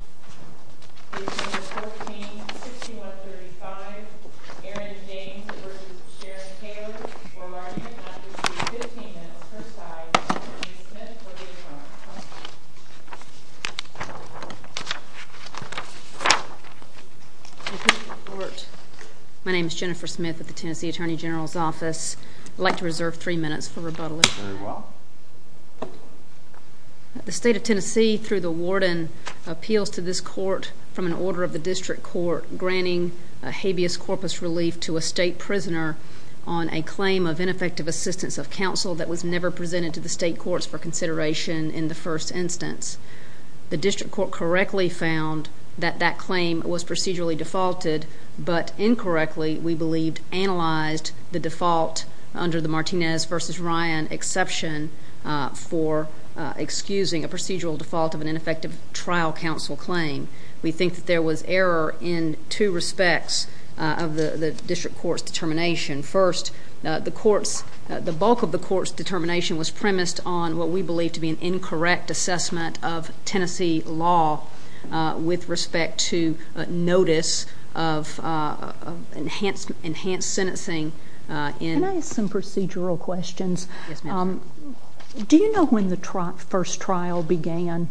or are you going to have to speak 15 minutes per side to Attorney Smith or to the Attorney General's Office? I thank the Court. My name is Jennifer Smith with the Tennessee Attorney General's Office. I'd like to reserve three minutes for rebuttal if I may. Very well. The State of Tennessee, through the Warden, appeals to this Court from an order of the District Court granting habeas corpus relief to a State prisoner on a claim of ineffective assistance of counsel that was never presented to the State Courts for consideration in the first instance. The District Court correctly found that that claim was procedurally defaulted, but incorrectly, we believe, analyzed the default under the Martinez v. Ryan exception for excusing a procedural default of an ineffective trial counsel claim. We think that there was error in two respects of the District Court's determination. First, the bulk of the Court's determination was premised on what we believe to be an incorrect assessment of Tennessee law with respect to notice of enhanced sentencing. Can I ask some procedural questions? Yes, ma'am. Do you know when the first trial began?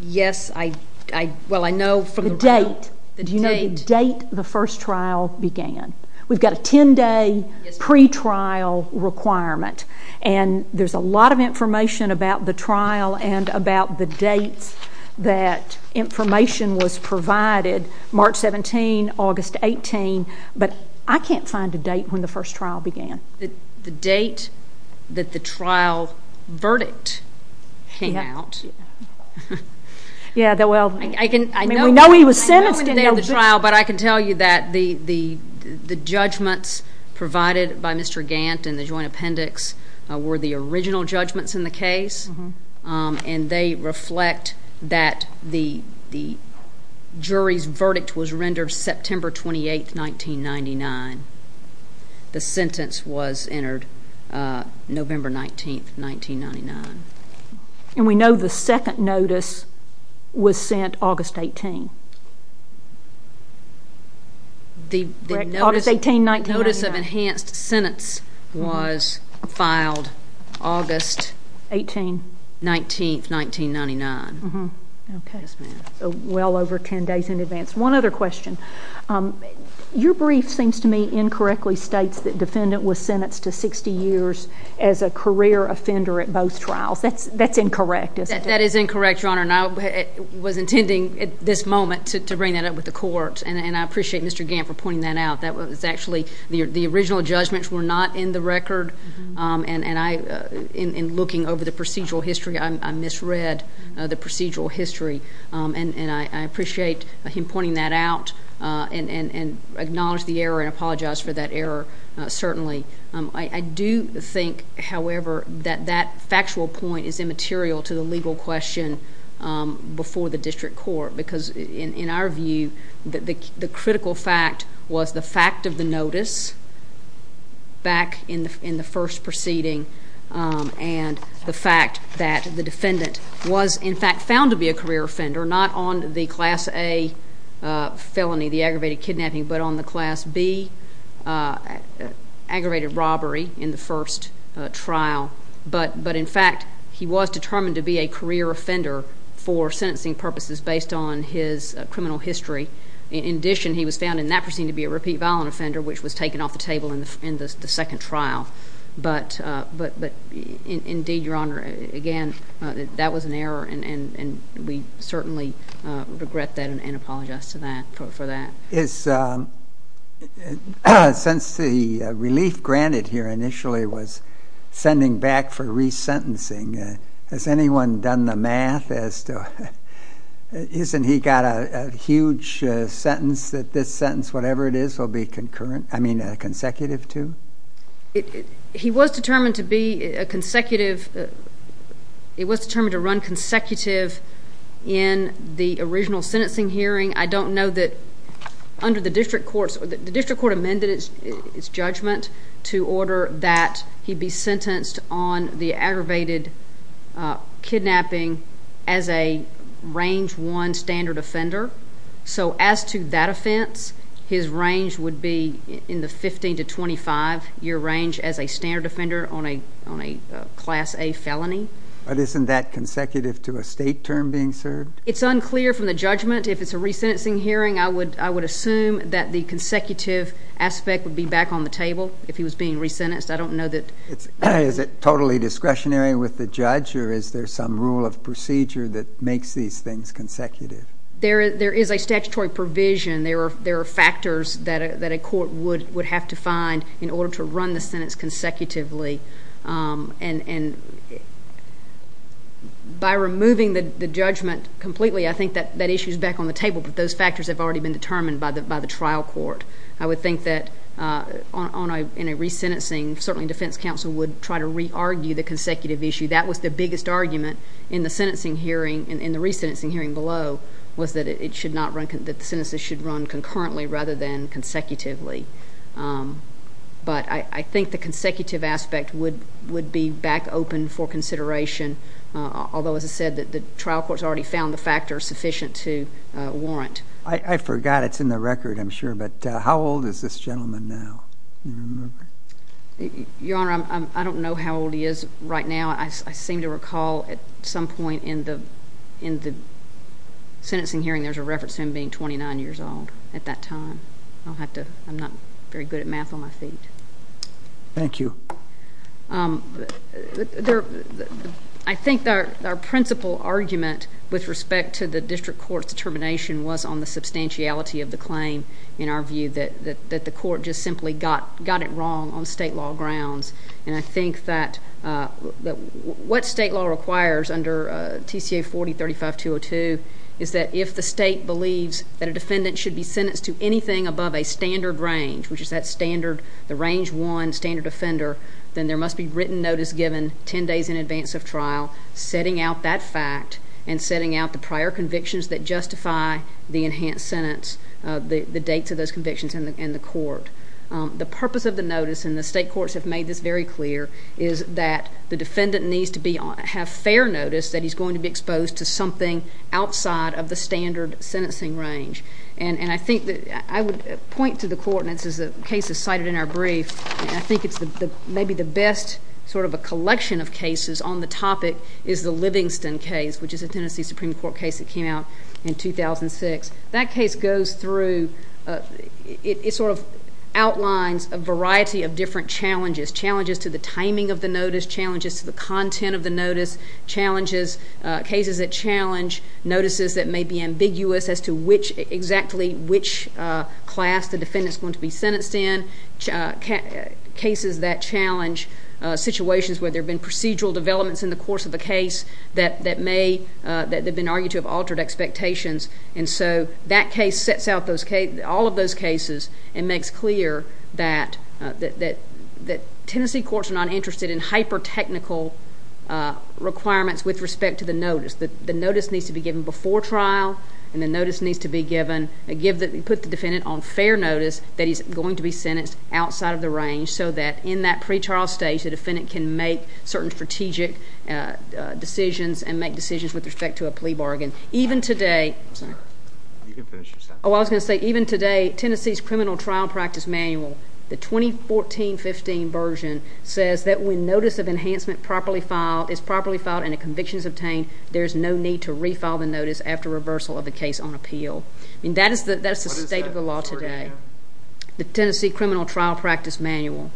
Yes, I—well, I know from the— The date. Do you know the date the first trial began? We've got a 10-day pre-trial requirement, and there's a lot of information about the trial and about the dates that information was provided—March 17, August 18—but I can't find a date when the first trial began. The date that the trial verdict came out. Yeah, well— I can—I know— I mean, we know he was sentenced in— November 19, 1999. And we know the second notice was sent August 18. The notice— August 18, 1999. The notice of enhanced sentence was filed August— 18. 19, 1999. Uh-huh. Yes, ma'am. Well over 10 days in advance. One other question. Your brief seems to me incorrectly states that defendant was sentenced to 60 years as a career offender at both trials. That's incorrect, isn't it? That is incorrect, Your Honor, and I was intending at this moment to bring that up with the court, and I appreciate Mr. Gant for pointing that out. That was actually—the original judgments were not in the record, and I—in looking over the procedural history, I misread the procedural history. And I appreciate him pointing that out and acknowledge the error and apologize for that error, certainly. I do think, however, that that factual point is immaterial to the legal question before the district court, because in our view, the critical fact was the fact of the notice back in the first proceeding and the fact that the defendant was, in fact, found to be a career offender, not on the Class A felony, the aggravated kidnapping, but on the Class B aggravated robbery in the first trial. But, in fact, he was determined to be a career offender for sentencing purposes based on his criminal history. In addition, he was found in that proceeding to be a repeat violent offender, which was taken off the table in the second trial. But, indeed, Your Honor, again, that was an error, and we certainly regret that and apologize for that. Since the relief granted here initially was sending back for resentencing, has anyone done the math as to—isn't he got a huge sentence that this sentence, whatever it is, will be concurrent—I mean, consecutive to? He was determined to be a consecutive—he was determined to run consecutive in the original sentencing hearing. I don't know that under the district court's—the district court amended its judgment to order that he be sentenced on the aggravated kidnapping as a Range 1 standard offender. So, as to that offense, his range would be in the 15 to 25-year range as a standard offender on a Class A felony. But isn't that consecutive to a state term being served? It's unclear from the judgment. If it's a resentencing hearing, I would assume that the consecutive aspect would be back on the table if he was being resentenced. I don't know that— Is it totally discretionary with the judge, or is there some rule of procedure that makes these things consecutive? There is a statutory provision. There are factors that a court would have to find in order to run the sentence consecutively. And by removing the judgment completely, I think that issue is back on the table, but those factors have already been determined by the trial court. I would think that in a resentencing, certainly a defense counsel would try to re-argue the consecutive issue. That was the biggest argument in the resentencing hearing below, was that the sentences should run concurrently rather than consecutively. But I think the consecutive aspect would be back open for consideration, although, as I said, the trial court has already found the factors sufficient to warrant. I forgot. It's in the record, I'm sure. But how old is this gentleman now? Your Honor, I don't know how old he is right now. I seem to recall at some point in the sentencing hearing, there's a reference to him being 29 years old at that time. I'm not very good at math on my feet. Thank you. I think our principal argument with respect to the district court's determination was on the substantiality of the claim, in our view that the court just simply got it wrong on state law grounds. And I think that what state law requires under TCA 4035-202 is that if the state believes that a defendant should be sentenced to anything above a standard range, which is that range 1 standard offender, then there must be written notice given 10 days in advance of trial setting out that fact and setting out the prior convictions that justify the enhanced sentence, the dates of those convictions in the court. The purpose of the notice, and the state courts have made this very clear, is that the defendant needs to have fair notice that he's going to be exposed to something outside of the standard sentencing range. And I think that I would point to the court, and this is a case that's cited in our brief, and I think it's maybe the best sort of a collection of cases on the topic is the Livingston case, which is a Tennessee Supreme Court case that came out in 2006. That case goes through, it sort of outlines a variety of different challenges, challenges to the timing of the notice, challenges to the content of the notice, challenges, cases that challenge notices that may be ambiguous as to which, exactly which class the defendant is going to be sentenced in, cases that challenge situations where there have been procedural developments in the course of the case that may, that have been argued to have altered expectations. And so that case sets out all of those cases and makes clear that Tennessee courts are not interested in hyper-technical requirements with respect to the notice. The notice needs to be given before trial, and the notice needs to be given, put the defendant on fair notice that he's going to be sentenced outside of the range so that in that pretrial stage the defendant can make certain strategic decisions and make decisions with respect to a plea bargain. Even today, I'm sorry. You can finish your sentence. Oh, I was going to say, even today, Tennessee's criminal trial practice manual, the 2014-15 version, says that when notice of enhancement is properly filed and a conviction is obtained, there is no need to refile the notice after reversal of the case on appeal. I mean, that is the state of the law today. What is that? The Tennessee criminal trial practice manual.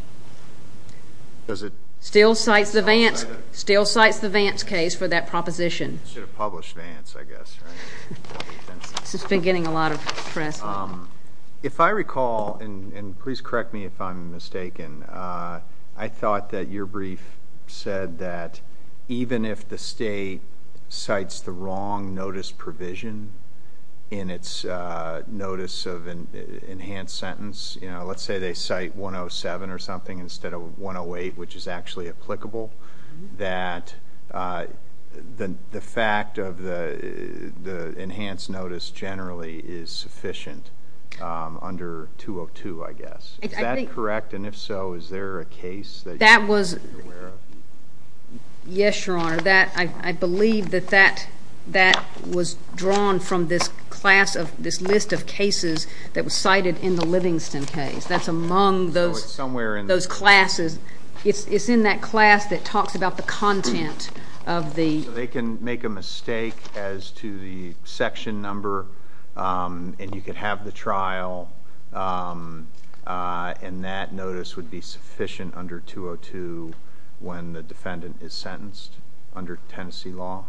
Does it? Still cites the Vance case for that proposition. I should have published Vance, I guess. This has been getting a lot of press. If I recall, and please correct me if I'm mistaken, I thought that your brief said that even if the state cites the wrong notice provision in its notice of enhanced sentence, let's say they cite 107 or something instead of 108, which is actually applicable, that the fact of the enhanced notice generally is sufficient under 202, I guess. Is that correct? And if so, is there a case that you're aware of? Yes, Your Honor. I believe that that was drawn from this list of cases that was cited in the Livingston case. That's among those classes. It's in that class that talks about the content of the... So they can make a mistake as to the section number and you can have the trial and that notice would be sufficient under 202 when the defendant is sentenced under Tennessee law?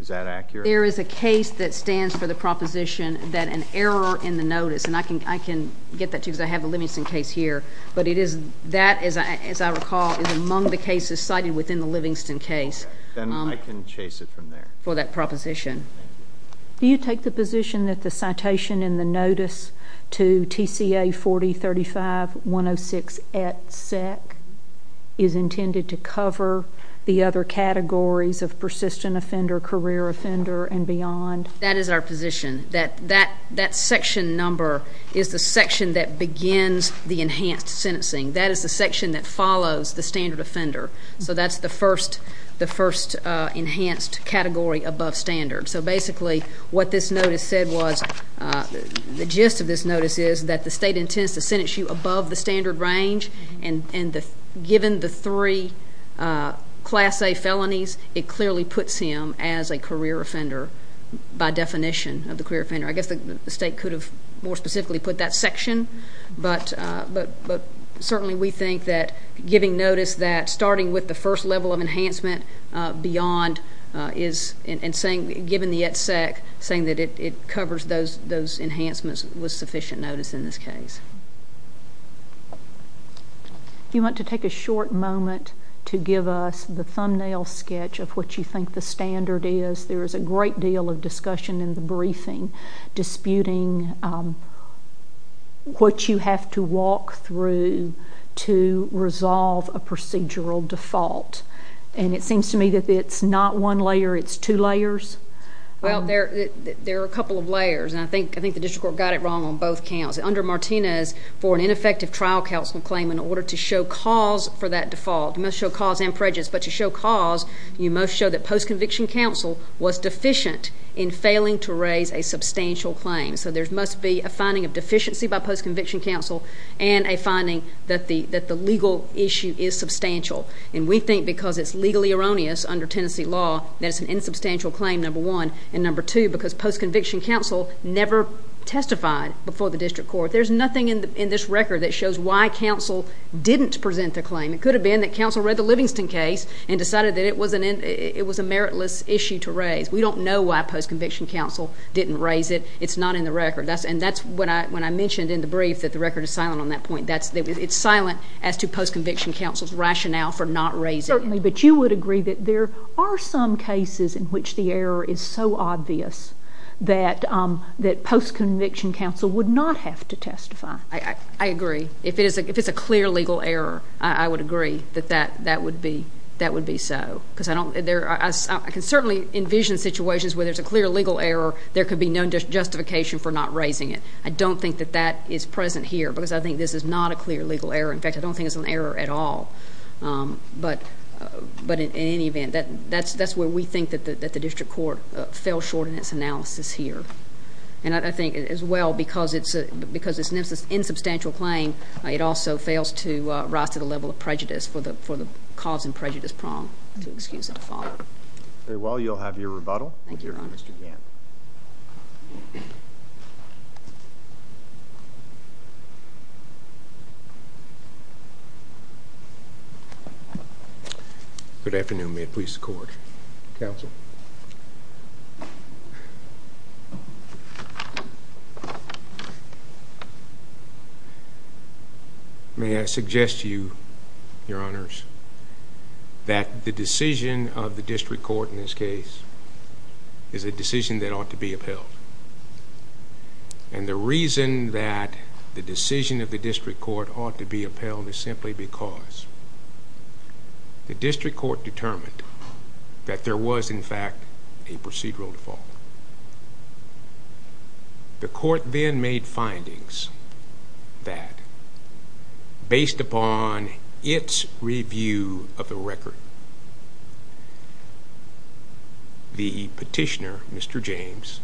Is that accurate? There is a case that stands for the proposition that an error in the notice... And I can get that to you because I have the Livingston case here. But that, as I recall, is among the cases cited within the Livingston case. Then I can chase it from there. For that proposition. Do you take the position that the citation in the notice to TCA 4035-106 et sec is intended to cover the other categories of persistent offender, career offender, and beyond? That is our position. That section number is the section that begins the enhanced sentencing. That is the section that follows the standard offender. So that's the first enhanced category above standard. So basically what this notice said was... The gist of this notice is that the state intends to sentence you above the standard range. And given the three Class A felonies, it clearly puts him as a career offender by definition of the career offender. I guess the state could have more specifically put that section. But certainly we think that giving notice that starting with the first level of enhancement beyond... You want to take a short moment to give us the thumbnail sketch of what you think the standard is. There is a great deal of discussion in the briefing disputing what you have to walk through to resolve a procedural default. And it seems to me that it's not one layer, it's two layers. Well, there are a couple of layers, and I think the district court got it wrong on both counts. Under Martinez, for an ineffective trial counsel claim, in order to show cause for that default... You must show cause and prejudice. But to show cause, you must show that post-conviction counsel was deficient in failing to raise a substantial claim. So, there must be a finding of deficiency by post-conviction counsel and a finding that the legal issue is substantial. And we think because it's legally erroneous under Tennessee law, that it's an insubstantial claim, number one. And number two, because post-conviction counsel never testified before the district court. There's nothing in this record that shows why counsel didn't present the claim. It could have been that counsel read the Livingston case and decided that it was a meritless issue to raise. We don't know why post-conviction counsel didn't raise it. It's not in the record. And that's when I mentioned in the brief that the record is silent on that point. It's silent as to post-conviction counsel's rationale for not raising it. Certainly, but you would agree that there are some cases in which the error is so obvious that post-conviction counsel would not have to testify. I agree. If it's a clear legal error, I would agree that that would be so. Because I can certainly envision situations where there's a clear legal error, there could be no justification for not raising it. I don't think that that is present here because I think this is not a clear legal error. In fact, I don't think it's an error at all. But in any event, that's where we think that the district court fell short in its analysis here. And I think, as well, because it's an insubstantial claim, it also fails to rise to the level of prejudice for the cause and prejudice prong to excuse it to follow. Very well. You'll have your rebuttal. Thank you, Your Honor. Good afternoon. May it please the Court. Counsel. May I suggest to you, Your Honors, that the decision of the district court in this case is a decision that ought to be upheld. And the reason that the decision of the district court ought to be upheld is simply because the district court determined that there was, in fact, a procedural default. The court then made findings that, based upon its review of the record, the petitioner, Mr. James,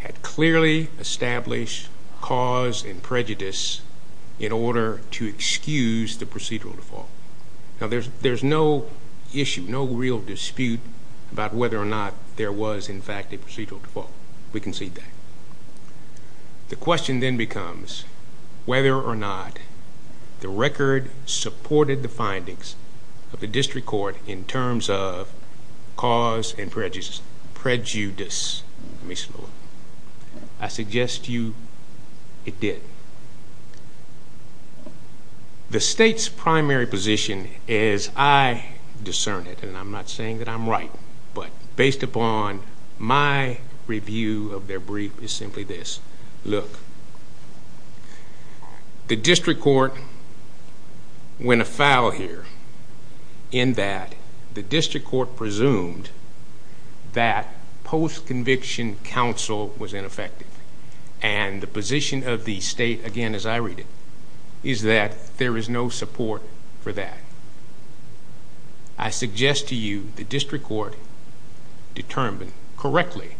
had clearly established cause and prejudice in order to excuse the procedural default. Now, there's no issue, no real dispute about whether or not there was, in fact, a procedural default. We concede that. The question then becomes whether or not the record supported the findings of the district court in terms of cause and prejudice. I suggest to you it did. The state's primary position, as I discern it, and I'm not saying that I'm right, but based upon my review of their brief, is simply this. Look, the district court went afoul here in that the district court presumed that post-conviction counsel was ineffective. And the position of the state, again, as I read it, is that there is no support for that. I suggest to you the district court determined correctly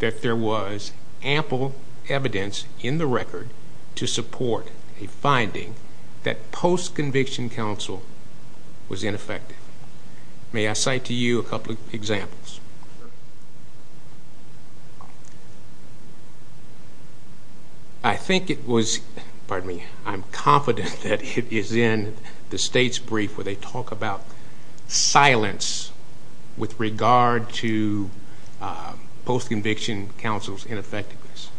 that there was ample evidence in the record to support a finding that post-conviction counsel was ineffective. May I cite to you a couple of examples? I think it was, pardon me, I'm confident that it is in the state's brief where they talk about silence with regard to post-conviction counsel's ineffectiveness.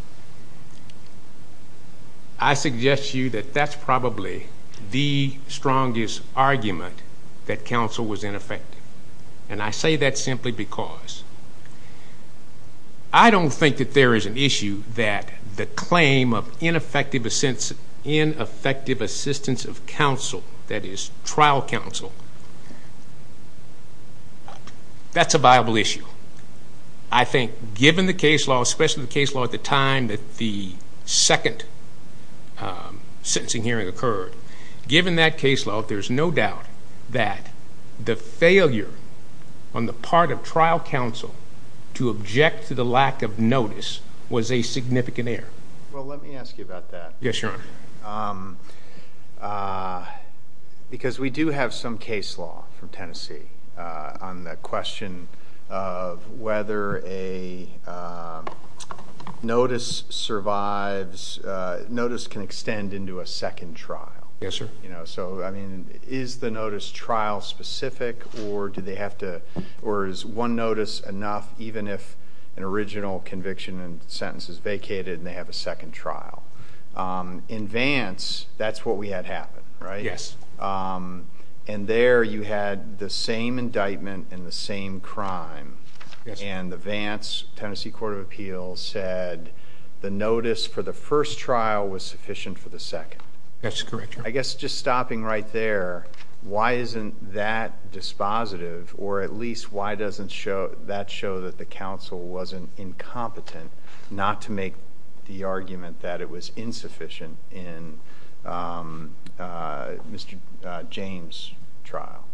I suggest to you that that's probably the strongest argument that counsel was ineffective. And I say that simply because. I don't think that there is an issue that the claim of ineffective assistance of counsel, that is, trial counsel, that's a viable issue. I think given the case law, especially the case law at the time that the second sentencing hearing occurred, given that case law, there's no doubt that the failure on the part of trial counsel to object to the lack of notice was a significant error. Well, let me ask you about that. Yes, Your Honor. Because we do have some case law from Tennessee on the question of whether a notice survives, notice can extend into a second trial. Yes, sir. So, I mean, is the notice trial specific or do they have to, or is one notice enough even if an original conviction and sentence is vacated and they have a second trial? In Vance, that's what we had happen, right? Yes. And there you had the same indictment and the same crime. Yes, sir. And the Vance Tennessee Court of Appeals said the notice for the first trial was sufficient for the second. That's correct, Your Honor. I guess just stopping right there, why isn't that dispositive or at least why doesn't that show that the counsel wasn't incompetent not to make the argument that it was insufficient in Mr. James' trial?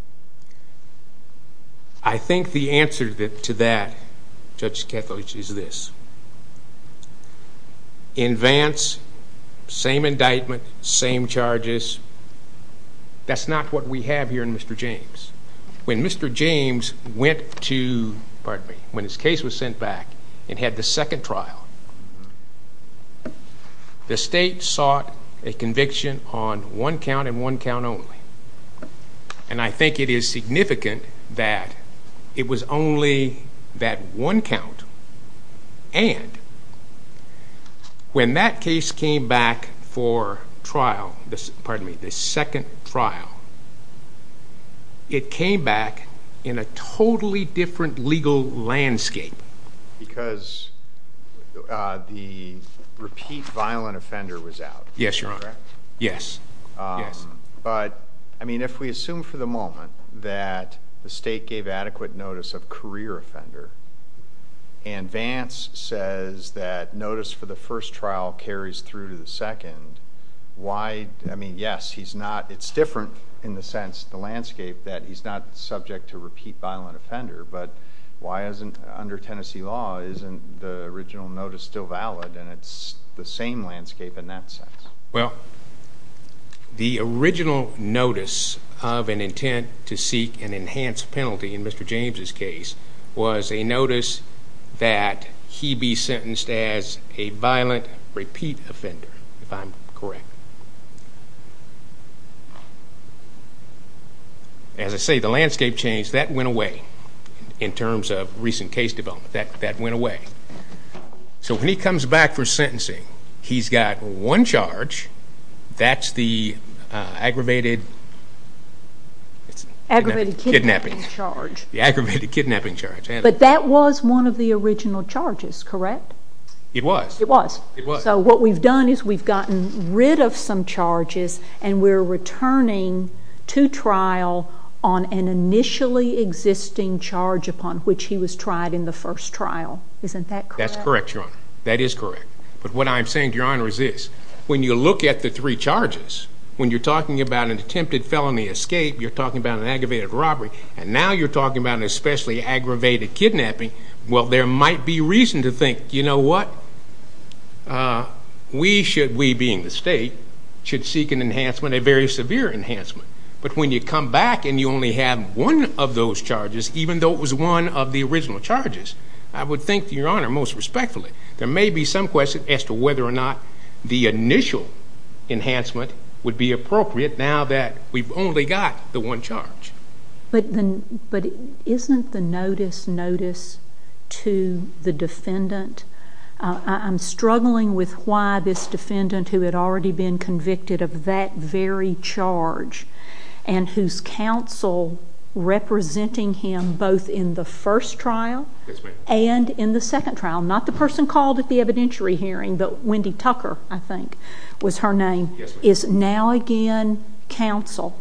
I think the answer to that, Judge Kethledge, is this. In Vance, same indictment, same charges. That's not what we have here in Mr. James. When Mr. James went to, pardon me, when his case was sent back and had the second trial, the state sought a conviction on one count and one count only. And I think it is significant that it was only that one count. And when that case came back for trial, pardon me, the second trial, it came back in a totally different legal landscape. Because the repeat violent offender was out. Yes, Your Honor. Correct? Yes. But, I mean, if we assume for the moment that the state gave adequate notice of career offender and Vance says that notice for the first trial carries through to the second, why, I mean, yes, he's not, it's different in the sense, the landscape that he's not subject to repeat violent offender. But why isn't, under Tennessee law, isn't the original notice still valid and it's the same landscape in that sense? Well, the original notice of an intent to seek an enhanced penalty in Mr. James' case was a notice that he be sentenced as a violent repeat offender, if I'm correct. As I say, the landscape changed. That went away in terms of recent case development. That went away. So when he comes back for sentencing, he's got one charge, that's the aggravated kidnapping charge. But that was one of the original charges, correct? It was. It was. It was. So what we've done is we've gotten rid of some charges and we're returning to trial on an initially existing charge upon which he was tried in the first trial. Isn't that correct? That's correct, Your Honor. That is correct. But what I'm saying to Your Honor is this. When you look at the three charges, when you're talking about an attempted felony escape, you're talking about an aggravated robbery, and now you're talking about an especially aggravated kidnapping, well, there might be reason to think, you know what, we should, we being the state, should seek an enhancement, a very severe enhancement. But when you come back and you only have one of those charges, even though it was one of the original charges, I would think, Your Honor, most respectfully, there may be some question as to whether or not the initial enhancement would be appropriate now that we've only got the one charge. But isn't the notice notice to the defendant? I'm struggling with why this defendant who had already been convicted of that very charge and whose counsel representing him both in the first trial and in the second trial, not the person called at the evidentiary hearing, but Wendy Tucker, I think, was her name, is now again counsel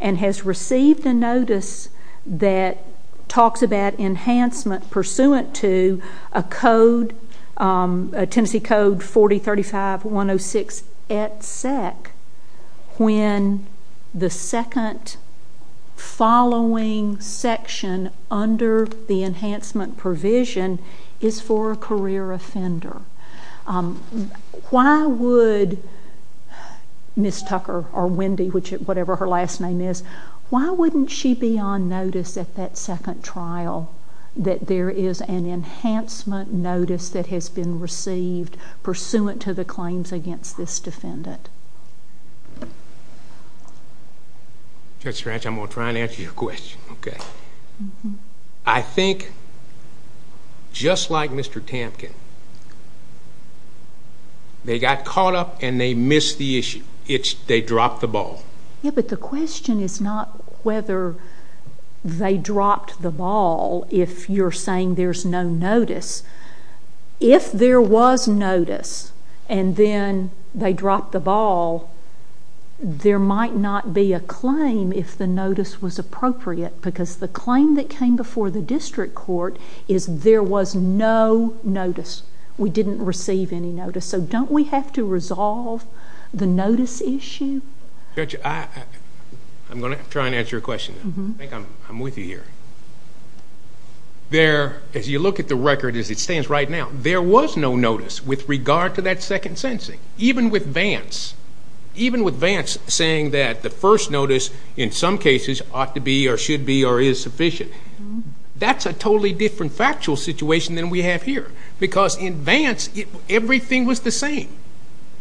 and has received a notice that talks about enhancement pursuant to a code, Tennessee Code 4035-106-ETSEC, when the second following section under the enhancement provision is for a career offender. Why would Ms. Tucker or Wendy, whatever her last name is, why wouldn't she be on notice at that second trial that there is an enhancement notice that has been received pursuant to the claims against this defendant? Judge French, I'm going to try and answer your question. Okay. I think, just like Mr. Tampkin, they got caught up and they missed the issue. They dropped the ball. Yeah, but the question is not whether they dropped the ball if you're saying there's no notice. If there was notice and then they dropped the ball, there might not be a claim if the notice was appropriate because the claim that came before the district court is there was no notice. We didn't receive any notice. So don't we have to resolve the notice issue? Judge, I'm going to try and answer your question. I think I'm with you here. There, as you look at the record as it stands right now, there was no notice with regard to that second sensing, even with Vance. Even with Vance saying that the first notice, in some cases, ought to be or should be or is sufficient. That's a totally different factual situation than we have here because in Vance, everything was the same.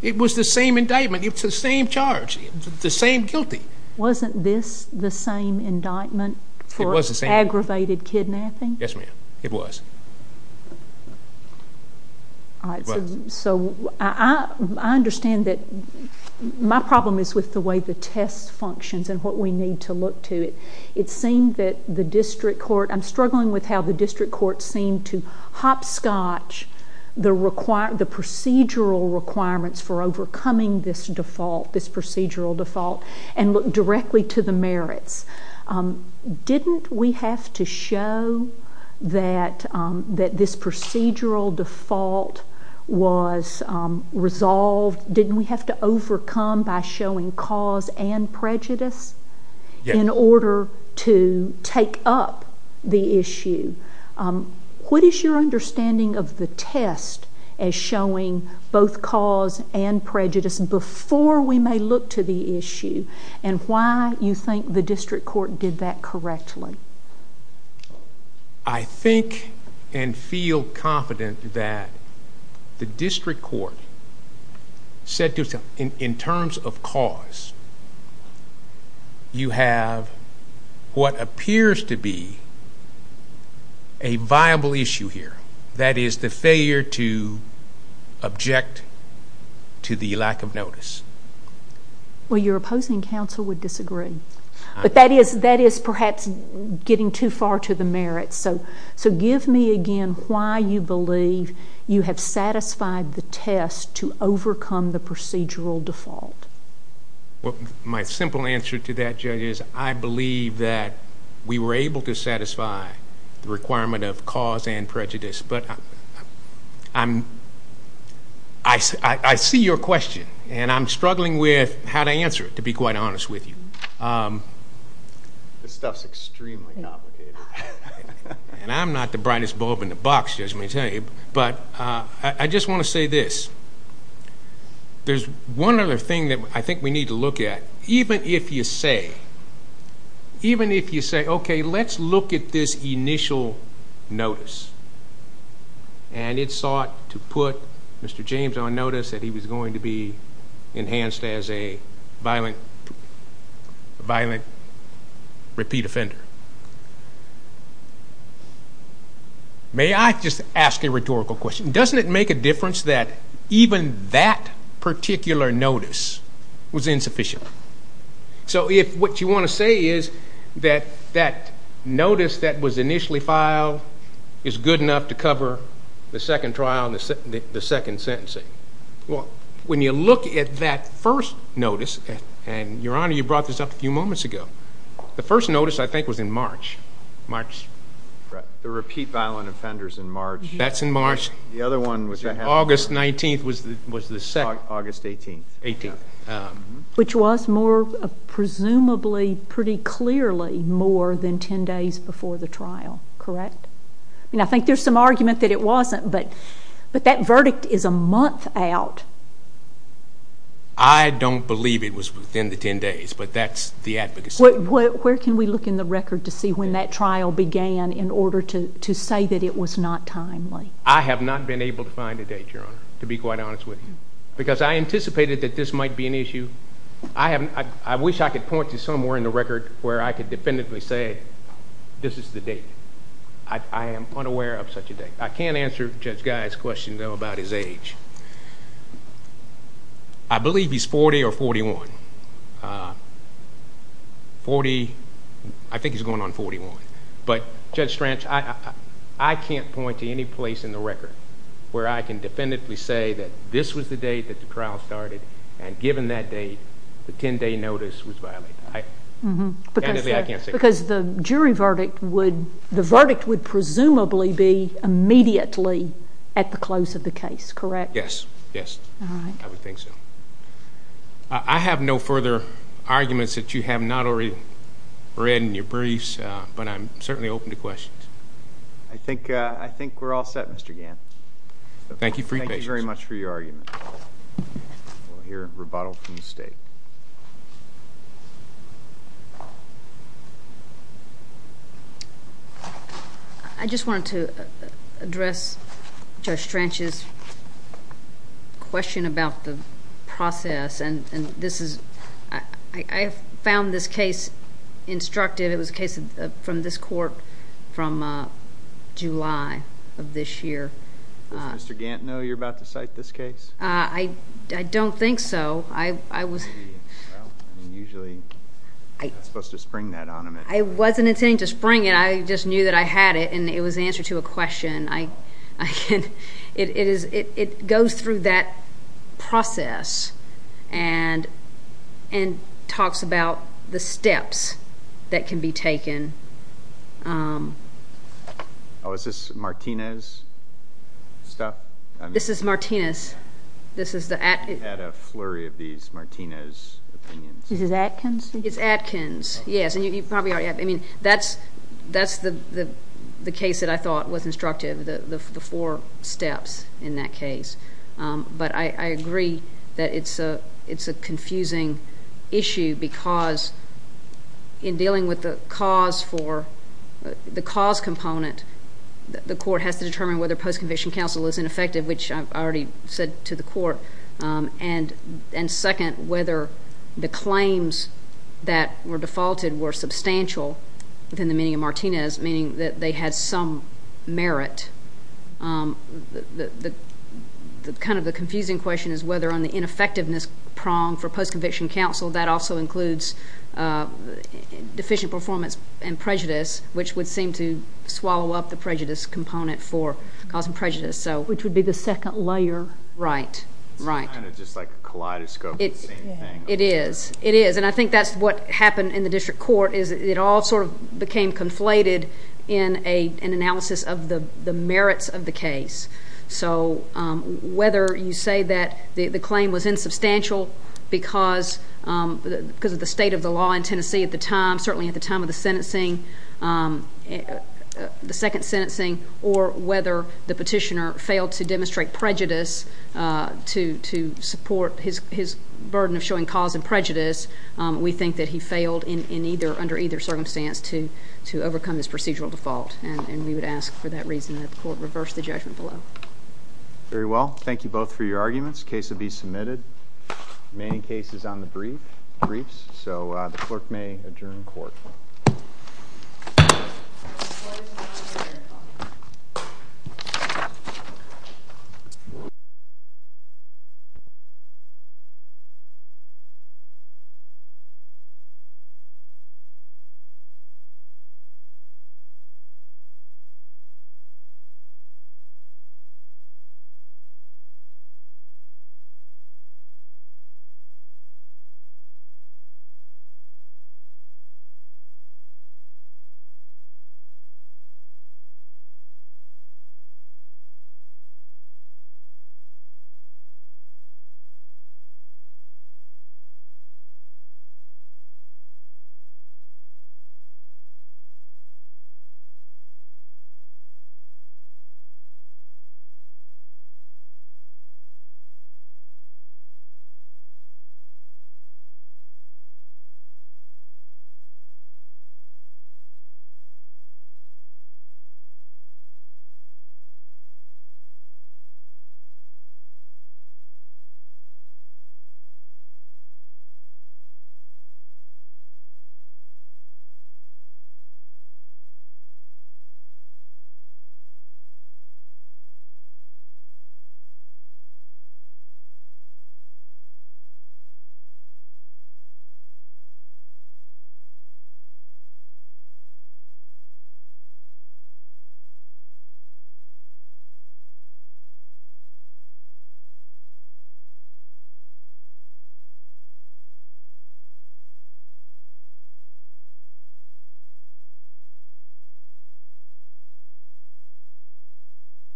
It was the same indictment. It's the same charge. It's the same guilty. Wasn't this the same indictment for aggravated kidnapping? Yes, ma'am. It was. I understand that my problem is with the way the test functions and what we need to look to. It seemed that the district court—I'm struggling with how the district court seemed to hopscotch the procedural requirements for overcoming this default, this procedural default, and look directly to the merits. Didn't we have to show that this procedural default was resolved? Didn't we have to overcome by showing cause and prejudice in order to take up the issue? What is your understanding of the test as showing both cause and prejudice before we may look to the issue and why you think the district court did that correctly? I think and feel confident that the district court said to itself, in terms of cause, you have what appears to be a viable issue here. That is the failure to object to the lack of notice. Well, your opposing counsel would disagree. But that is perhaps getting too far to the merits. So give me again why you believe you have satisfied the test to overcome the procedural default. My simple answer to that, Judge, is I believe that we were able to satisfy the requirement of cause and prejudice. But I see your question, and I'm struggling with how to answer it, to be quite honest with you. This stuff is extremely complicated. And I'm not the brightest bulb in the box, Judge, let me tell you. But I just want to say this. There's one other thing that I think we need to look at. Even if you say, okay, let's look at this initial notice, and it sought to put Mr. James on notice that he was going to be enhanced as a violent repeat offender. May I just ask a rhetorical question? Doesn't it make a difference that even that particular notice was insufficient? So what you want to say is that that notice that was initially filed is good enough to cover the second trial and the second sentencing. Well, when you look at that first notice, and, Your Honor, you brought this up a few moments ago. The first notice, I think, was in March. March. The repeat violent offenders in March. That's in March. The other one was in August. August 19th was the second. August 18th. 18th. Which was presumably pretty clearly more than 10 days before the trial, correct? I think there's some argument that it wasn't, but that verdict is a month out. I don't believe it was within the 10 days, but that's the advocacy. Where can we look in the record to see when that trial began in order to say that it was not timely? I have not been able to find a date, Your Honor, to be quite honest with you, because I anticipated that this might be an issue. I wish I could point to somewhere in the record where I could definitively say this is the date. I am unaware of such a date. I can answer Judge Guy's question, though, about his age. I believe he's 40 or 41. I think he's going on 41. But, Judge Stranch, I can't point to any place in the record where I can definitively say that this was the date that the trial started, and given that date, the 10-day notice was violated. Because the jury verdict would presumably be immediately at the close of the case, correct? Yes, yes, I would think so. I have no further arguments that you have not already read in your briefs, but I'm certainly open to questions. I think we're all set, Mr. Gant. Thank you for your patience. Thank you very much for your argument. We'll hear rebuttal from the State. I just wanted to address Judge Stranch's question about the process. I found this case instructive. It was a case from this court from July of this year. Does Mr. Gant know you're about to cite this case? I don't think so. I wasn't intending to spring it. I just knew that I had it, and it was the answer to a question. It goes through that process and talks about the steps that can be taken. Oh, is this Martinez stuff? This is Martinez. You had a flurry of these Martinez opinions. This is Atkins? It's Atkins, yes. That's the case that I thought was instructive, the four steps in that case. I agree that it's a confusing issue because in dealing with the cause component, the court has to determine whether post-conviction counsel is ineffective, which I've already said to the court, and second, whether the claims that were defaulted were substantial, within the meaning of Martinez, meaning that they had some merit. The confusing question is whether on the ineffectiveness prong for post-conviction counsel, that also includes deficient performance and prejudice, which would seem to swallow up the prejudice component for causing prejudice. Which would be the second layer. Right. It's kind of just like a kaleidoscope, the same thing. It is. It is, and I think that's what happened in the district court. It all sort of became conflated in an analysis of the merits of the case. So whether you say that the claim was insubstantial because of the state of the law in Tennessee at the time, certainly at the time of the second sentencing, or whether the petitioner failed to demonstrate prejudice to support his burden of showing cause and prejudice, we think that he failed under either circumstance to overcome his procedural default, and we would ask for that reason that the court reverse the judgment below. Very well. Thank you both for your arguments. The case will be submitted. The remaining case is on the briefs, so the clerk may adjourn court.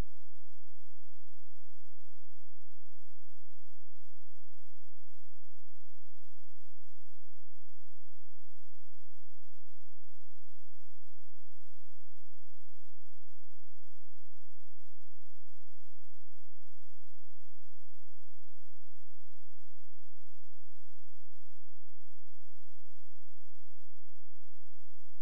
Thank you. Thank you. Thank you. Thank you. Thank you.